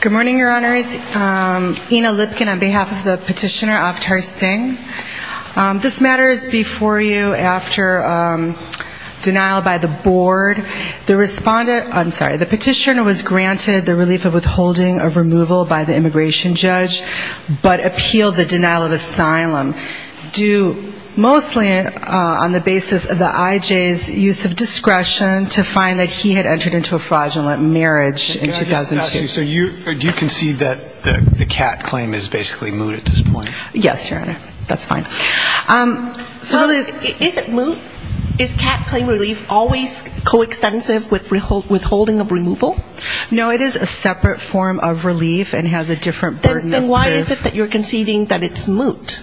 Good morning, Your Honors. Ina Lipkin on behalf of the petitioner, Avtar Singh. This matter is before you after denial by the board. The petitioner was granted the relief of withholding of removal by the immigration judge, but appealed the denial of asylum, due mostly on the basis of the IJ's use of discretion to find that he had entered into a fraudulent marriage in 2006. So do you concede that the CAT claim is basically moot at this point? Yes, Your Honor. That's fine. So is it moot? Is CAT claim relief always coextensive with withholding of removal? No, it is a separate form of relief and has a different burden of relief. Then why is it that you're conceding that it's moot,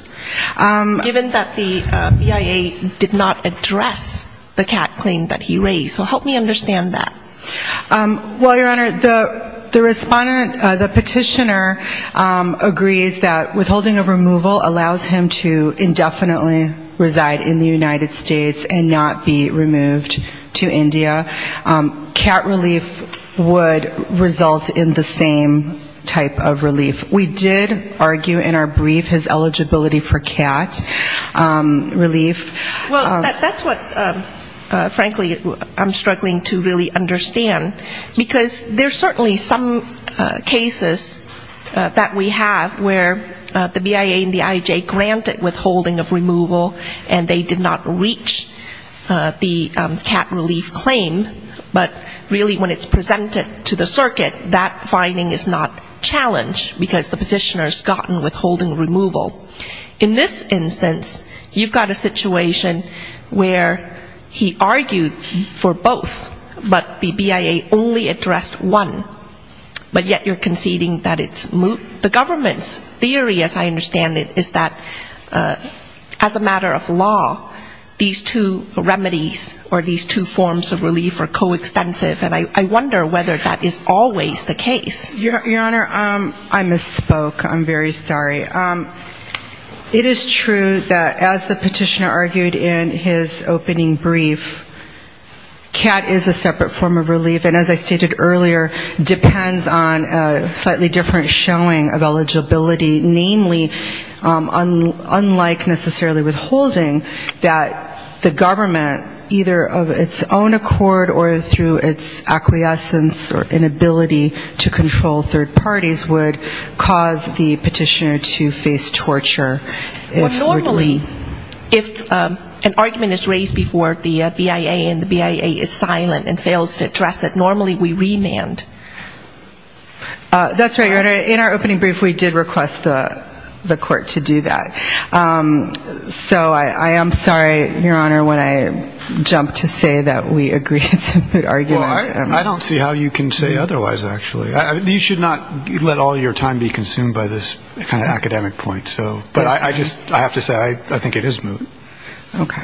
given that the BIA did not address the matter? The respondent, the petitioner, agrees that withholding of removal allows him to indefinitely reside in the United States and not be removed to India. CAT relief would result in the same type of relief. We did argue in our brief his eligibility for CAT relief. Well, that's what frankly I'm struggling to really understand, because there's so certainly some cases that we have where the BIA and the IJ grant a withholding of removal and they did not reach the CAT relief claim, but really when it's presented to the circuit, that finding is not challenged, because the petitioner's gotten withholding of removal. In this instance, you've got a situation where he argued for both, but the BIA only addressed one, but yet you're conceding that it's moot. The government's theory, as I understand it, is that as a matter of law, these two remedies or these two forms of relief are coextensive, and I wonder whether that is always the case. Your Honor, I misspoke. I'm very sorry. It is true that as the petitioner argued in his case earlier, depends on a slightly different showing of eligibility, namely, unlike necessarily withholding, that the government, either of its own accord or through its acquiescence or inability to control third parties, would cause the petitioner to face torture. Normally, if an argument is raised before the BIA and the BIA is silent and fails to address it, normally we remand. That's right, Your Honor. In our opening brief, we did request the court to do that. So I am sorry, Your Honor, when I jumped to say that we agree it's a moot argument. Well, I don't see how you can say otherwise, actually. You should not let all your time be consumed by this kind of academic point. But I just have to say I think it is moot. Okay.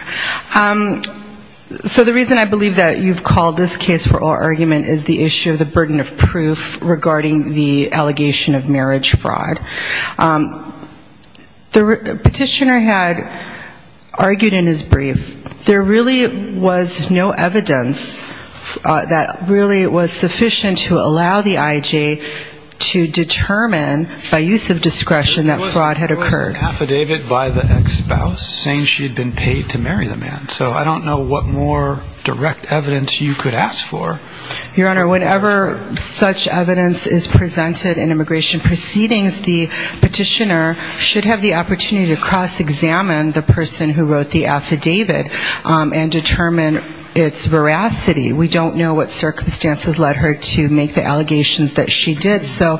So the reason I believe that you've called this case for oral argument is the issue of the burden of proof regarding the allegation of marriage fraud. The petitioner had argued in his brief there really was no evidence that really was sufficient to allow the IJ to determine by use of discretion that fraud had occurred. There was an affidavit by the ex-spouse saying she had been paid to marry the man. So I don't know what more direct evidence you could ask for. Your Honor, whenever such evidence is presented in immigration proceedings, the petitioner should have the opportunity to cross-examine the person who wrote the affidavit and determine its veracity. We don't know what circumstances led her to make the allegations that she did. So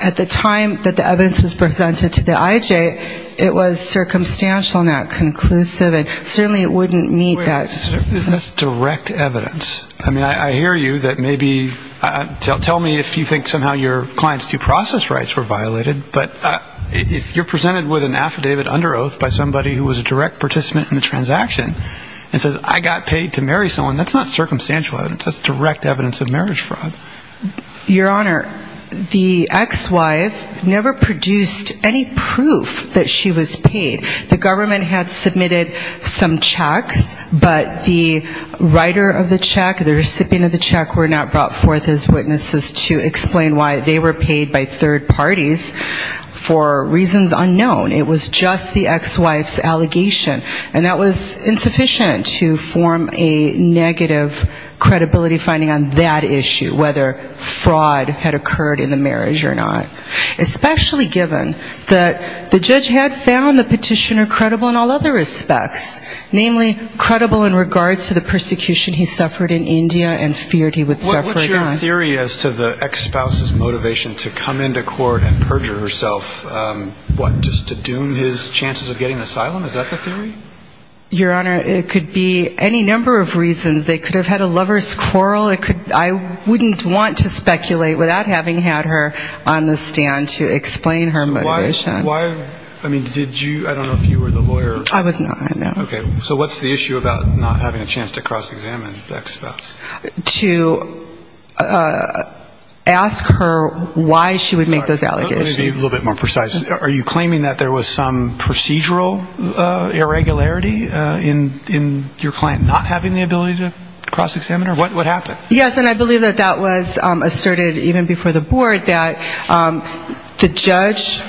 at the time that the evidence was presented to the IJ, it was circumstantial and not conclusive. And certainly it wouldn't meet that. That's direct evidence. I mean, I hear you that maybe tell me if you think somehow your client's due process rights were violated. But if you're presented with an affidavit under oath by somebody who was a direct participant in the transaction and says I got paid to marry someone, that's not circumstantial evidence. That's direct evidence of marriage fraud. Your Honor, the ex-wife never produced any proof that she was paid. The government had submitted some checks, but the writer of the check, the recipient of the check were not brought forth as witnesses to explain why they were paid by third parties for reasons unknown. It was just the ex-wife's allegation. And that was insufficient to form a negative accountability finding on that issue, whether fraud had occurred in the marriage or not. Especially given that the judge had found the petitioner credible in all other respects. Namely, credible in regards to the persecution he suffered in India and feared he would suffer again. What's your theory as to the ex-spouse's motivation to come into court and perjure herself, what, just to doom his family? Your Honor, it could be any number of reasons. They could have had a lover's quarrel. I wouldn't want to speculate without having had her on the stand to explain her motivation. I don't know if you were the lawyer. I was not. Okay. So what's the issue about not having a chance to cross-examine the ex-spouse? To ask her why she would make those allegations. Let me be a little bit more precise. Are you claiming that there was some procedural irregularity in your client not having the ability to cross-examine her? What happened? Yes, and I believe that that was asserted even before the board, that the judge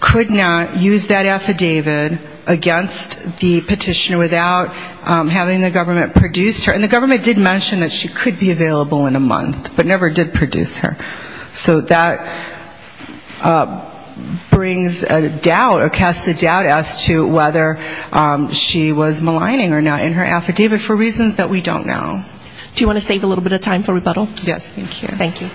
could not use that affidavit against the petitioner without having the government produce her. And the government did mention that she could be available in a month, but never did produce her. So that brings a doubt or casts a doubt as to whether she was maligning or not in her affidavit for reasons that we don't know. Do you want to save a little bit of time for rebuttal? Thank you.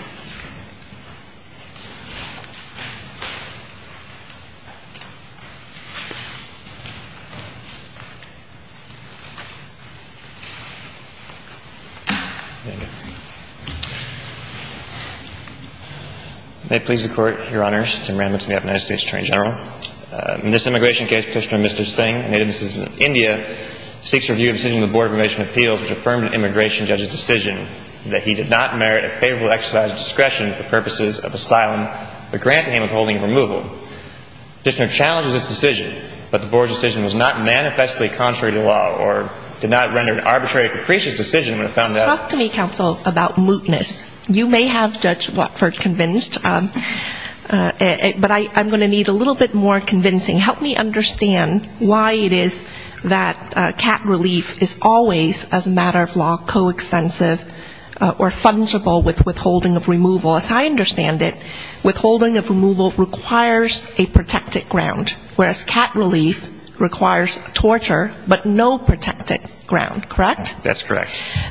May it please the Court, Your Honors, Tim Randmith, United States Attorney General. In this immigration case, Petitioner Mr. Singh, a native of Indian, seeks a review of the decision of the Board of Immigration Appeals, which affirmed in the immigration judge's decision that he did not merit a favorable exercise of discretion for purposes of asylum, but granted him withholding of removal. Petitioner challenges this decision, but the board's decision was not manifestly in line with the board's decision. I'm going to need a little bit more convincing. Help me understand why it is that cat relief is always, as a matter of law, coextensive or fungible with withholding of removal. As I understand it, withholding of removal requires a protected ground, whereas cat relief requires torture, which is a matter of law.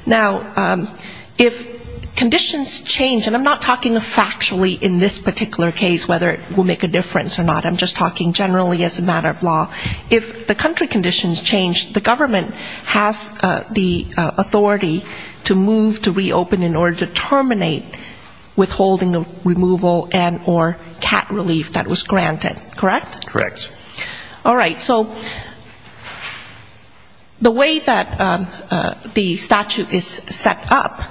Now, if conditions change, and I'm not talking factually in this particular case, whether it will make a difference or not, I'm just talking generally as a matter of law, if the country conditions change, the government has the authority to move to reopen in order to terminate withholding of removal and or cat relief that was granted, correct? All right. So the way that the statute is set up,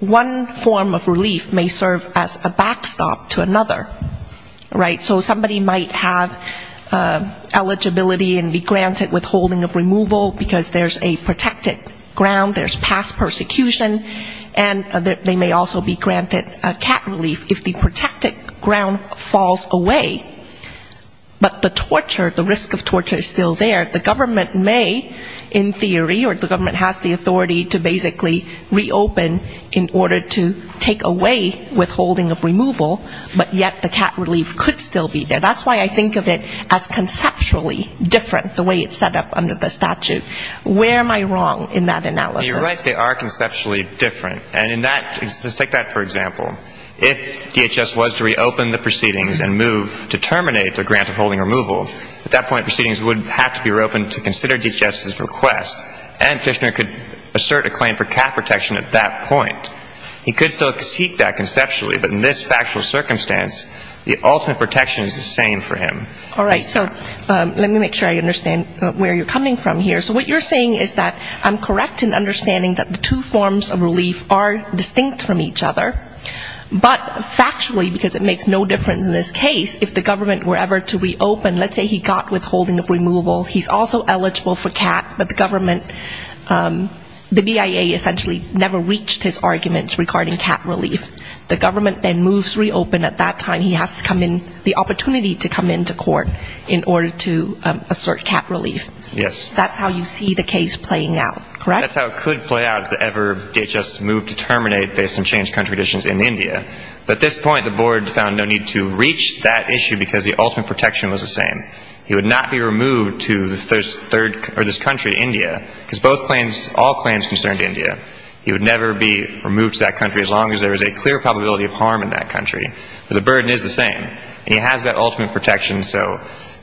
one form of relief may serve as a backstop to another, right? So somebody might have eligibility and be granted withholding of removal, because there's a protected ground, there's past persecution, and they may also be granted cat relief if the protected ground falls away, but that's not the case here. But the torture, the risk of torture is still there. The government may, in theory, or the government has the authority to basically reopen in order to take away withholding of removal, but yet the cat relief could still be there. That's why I think of it as conceptually different, the way it's set up under the statute. Where am I wrong in that analysis? You're right, they are conceptually different. And in that, let's take that for example. If DHS was to reopen the proceedings and move to terminate the grant of holding removal, at that point proceedings would have to be reopened to consider DHS's request, and Fishner could assert a claim for cat protection at that point. He could still seek that conceptually, but in this factual circumstance, the ultimate protection is the same for him. All right, so let me make sure I understand where you're coming from here. So what you're saying is that I'm correct in understanding that the two forms of relief are distinct from each other, but factually, because it makes no difference in this case, if the government were ever to reopen, let's say he got withholding of removal, he's also eligible for cat, but the government, the BIA essentially never reached his arguments regarding cat relief. The government then moves to reopen at that time. He has to come in, the opportunity to come in to qualify for cat relief, and that's not the case here. In order to assert cat relief. That's how you see the case playing out, correct? That's how it could play out if ever DHS moved to terminate based on changed country conditions in India. But at this point the board found no need to reach that issue because the ultimate protection was the same. He would not be removed to this country, India, because all claims concerned India. He would never be removed to that country as long as there was a clear probability of harm in that country. But the burden is the same. And he has that ultimate protection. So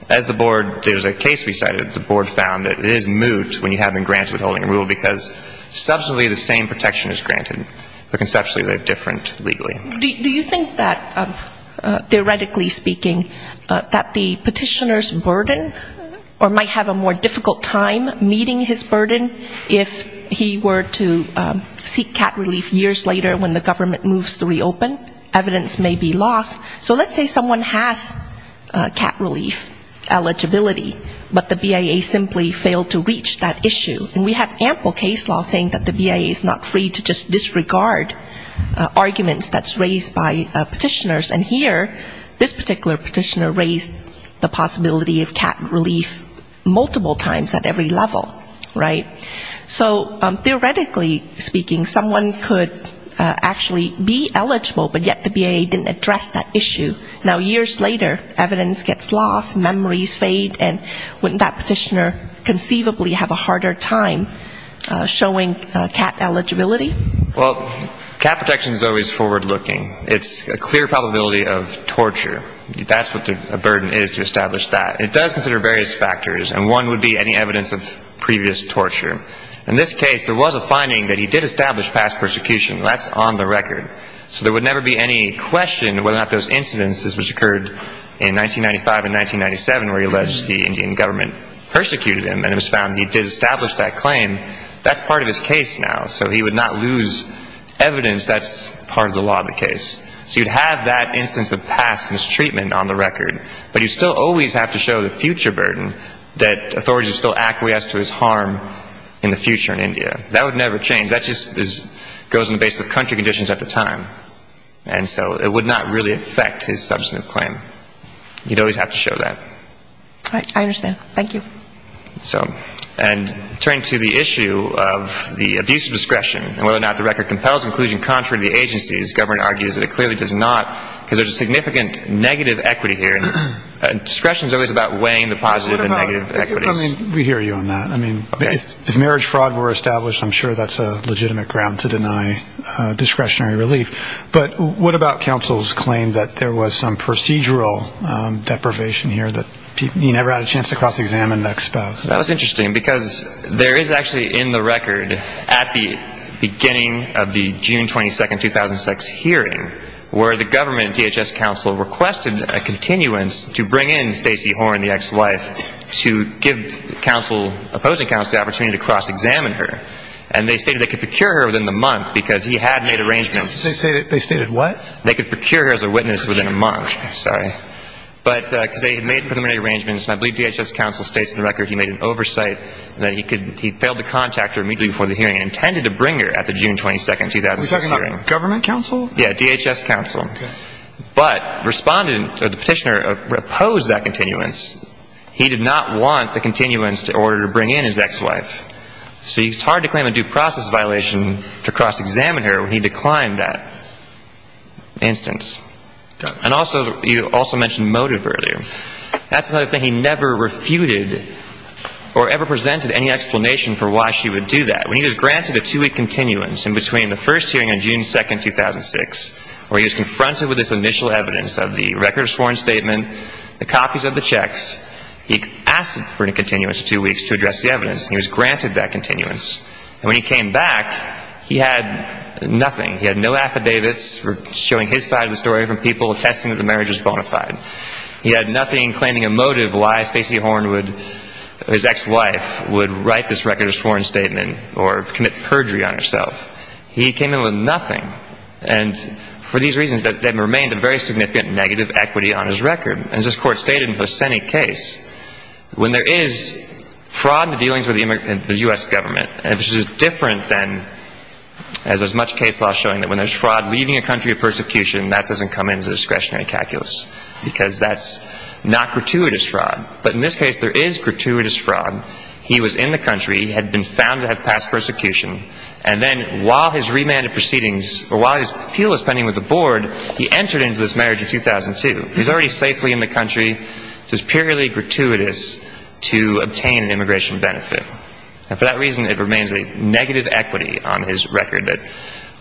as the board, there's a case we cited, the board found that it is moot when you have been granted withholding of removal because substantially the same protection is granted, but conceptually they're different legally. Do you think that, theoretically speaking, that the petitioner's burden, or might have a more difficult time meeting his burden if he were to seek cat relief years later when the government moves to reopen? Evidence may be lost. So let's say someone has cat relief eligibility, but the BIA simply failed to reach that issue. And we have ample case law saying that the BIA is not free to just disregard arguments that's wrong. And here this particular petitioner raised the possibility of cat relief multiple times at every level, right? So theoretically speaking, someone could actually be eligible, but yet the BIA didn't address that issue. Now years later, evidence gets lost, memories fade, and wouldn't that petitioner conceivably have a harder time showing cat eligibility? Well, cat protection is always forward-looking. It's a clear probability of torture. That's what the burden is to establish that. It does consider various factors, and one would be any evidence of previous torture. In this case, there was a finding that he did establish past persecution. That's on the record. So there would never be any question whether or not those incidences which occurred in 1995 and 1997 where he alleged the Indian government persecuted him and it was found he did establish that claim, that's part of his case now. So he would not lose evidence that's part of the law of the case. So you'd have that instance of past mistreatment on the record, but you'd still always have to show the future burden that authorities would still acquiesce to his harm in the future in India. That would never change. That just goes on the basis of country conditions at the time. And so it would not really affect his substantive claim. You'd always have to show that. I understand. Thank you. That was interesting because there is actually in the record at the beginning of the June 22, 2006 hearing where the government DHS counsel requested a continuance to bring in Stacey Horne, the ex-wife, to give opposing counsel the opportunity to cross-examine her. And they stated they could procure her within the month because he had made arrangements. They stated what? They could procure her as a witness within a month. Sorry. But because they had made preliminary arrangements and I believe DHS counsel states in the record he made an oversight and that he failed to contact her immediately before the hearing and intended to bring her at the June 22, 2006 hearing. Are you talking about government counsel? Yeah, DHS counsel. But the petitioner opposed that continuance. He did not want the continuance in order to bring in his ex-wife. So it's hard to claim a due process violation to cross-examine her when he declined that instance. And also, you also mentioned motive earlier. That's another thing he never refuted or ever presented any explanation for why she would do that. When he was granted a two-week continuance in between the first hearing on June 2, 2006 where he was confronted with this initial evidence of the record of sworn statement, the copies of the checks, he asked for a continuance of two weeks to address the evidence. And he was granted that continuance. And when he came back, he had nothing. He had no affidavits showing his side of the story from people attesting that the marriage was bona fide. He had nothing claiming a motive why Stacey Horn, his ex-wife, would write this record of sworn statement or commit perjury on herself. He came in with nothing. And for these reasons, there remained a very significant negative equity on his record. And as this Court stated in the Hosseni case, when there is fraud in the dealings with the U.S. government, which is different than as there's much case law showing that when there's fraud leaving a country of persecution, that doesn't come into the discretionary calculus because that's not gratuitous fraud. But in this case, there is gratuitous fraud. He was in the country. He had been found to have passed persecution. And then while his remanded proceedings or while his appeal was pending with the board, he entered into this marriage in 2002. He was already safely in the country. It was purely gratuitous to obtain an immigration benefit. And for that reason, it remains a negative equity on his record that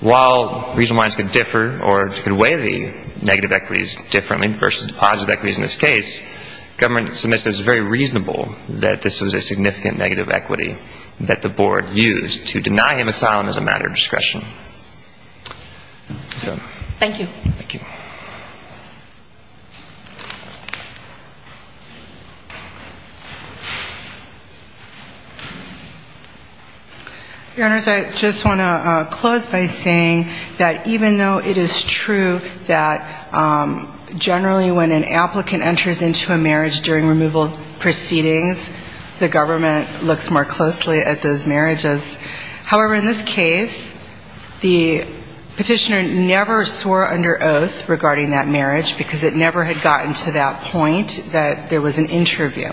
while reasonableness could differ or could weigh the negative equities differently versus the positive equities in this case, government submits that it's very reasonable that this was a significant negative equity that the board used to deny him asylum as a matter of discretion. Thank you. Thank you. Your Honors, I just want to close by saying that even though it is true that generally when an applicant enters into a marriage during removal proceedings, the government looks more closely at those marriages. However, in this case, the petitioner never swore under oath, rather, he was sworn in. Because it never had gotten to that point that there was an interview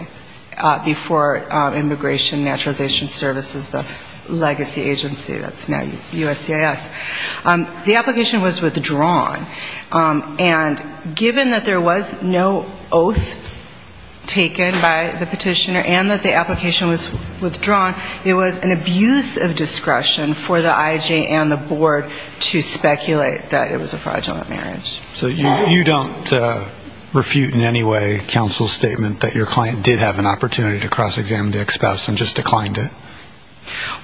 before Immigration and Naturalization Services, the legacy agency that's now USCIS. The application was withdrawn. And given that there was no oath taken by the petitioner and that the application was withdrawn, it was an abuse of discretion for the IJ and the board to speculate that it was a fraudulent marriage. So you don't refute in any way counsel's statement that your client did have an opportunity to cross-examine the ex-spouse and just declined it?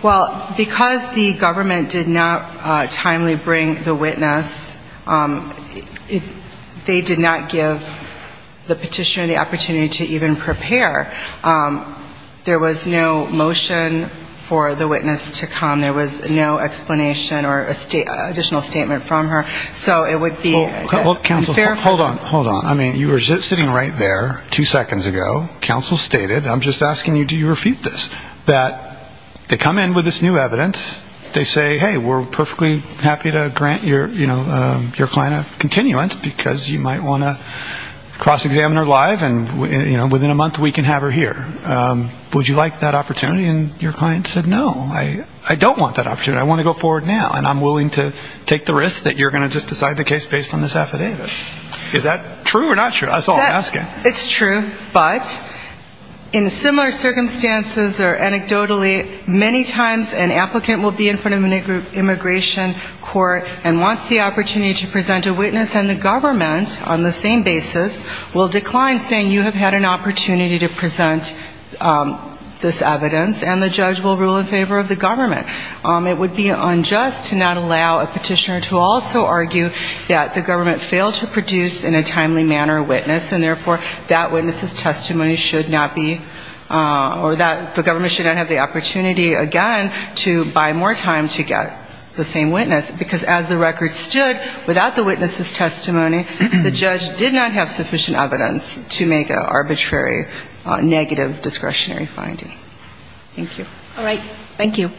Well, because the government did not timely bring the witness, they did not give the petitioner the opportunity to even prepare. There was no motion for the witness to come. There was no explanation or additional statement from her. So it would be unfair for them. Well, counsel, hold on, hold on. I mean, you were sitting right there two seconds ago. Counsel stated, I'm just asking you, do you refute this, that they come in with this new evidence. They say, hey, we're perfectly happy to grant your client a continuance because you might want to cross-examine her live and within a month we can have her here. Would you like that opportunity? And your client said, no, I don't want that opportunity. I want to go forward now. And I'm willing to take the risk that you're going to just decide the case based on this affidavit. Is that true or not true? That's all I'm asking. It's true. But in similar circumstances or anecdotally, many times an applicant will be in front of an immigration court and wants the opportunity to present a witness and the government on the same basis will decline saying you have had an opportunity to present this evidence and the judge will rule in favor of the government. It would be unjust to not allow a petitioner to also argue that the government failed to produce in a timely manner a witness and therefore that witness's testimony should not be or the government should not have the opportunity again to buy more time to get the same witness because as the record stood, without the witness's testimony, the judge did not have sufficient evidence to make an arbitrary negative discretionary finding. Thank you. All right. Thank you.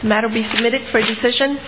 The matter be submitted for decision.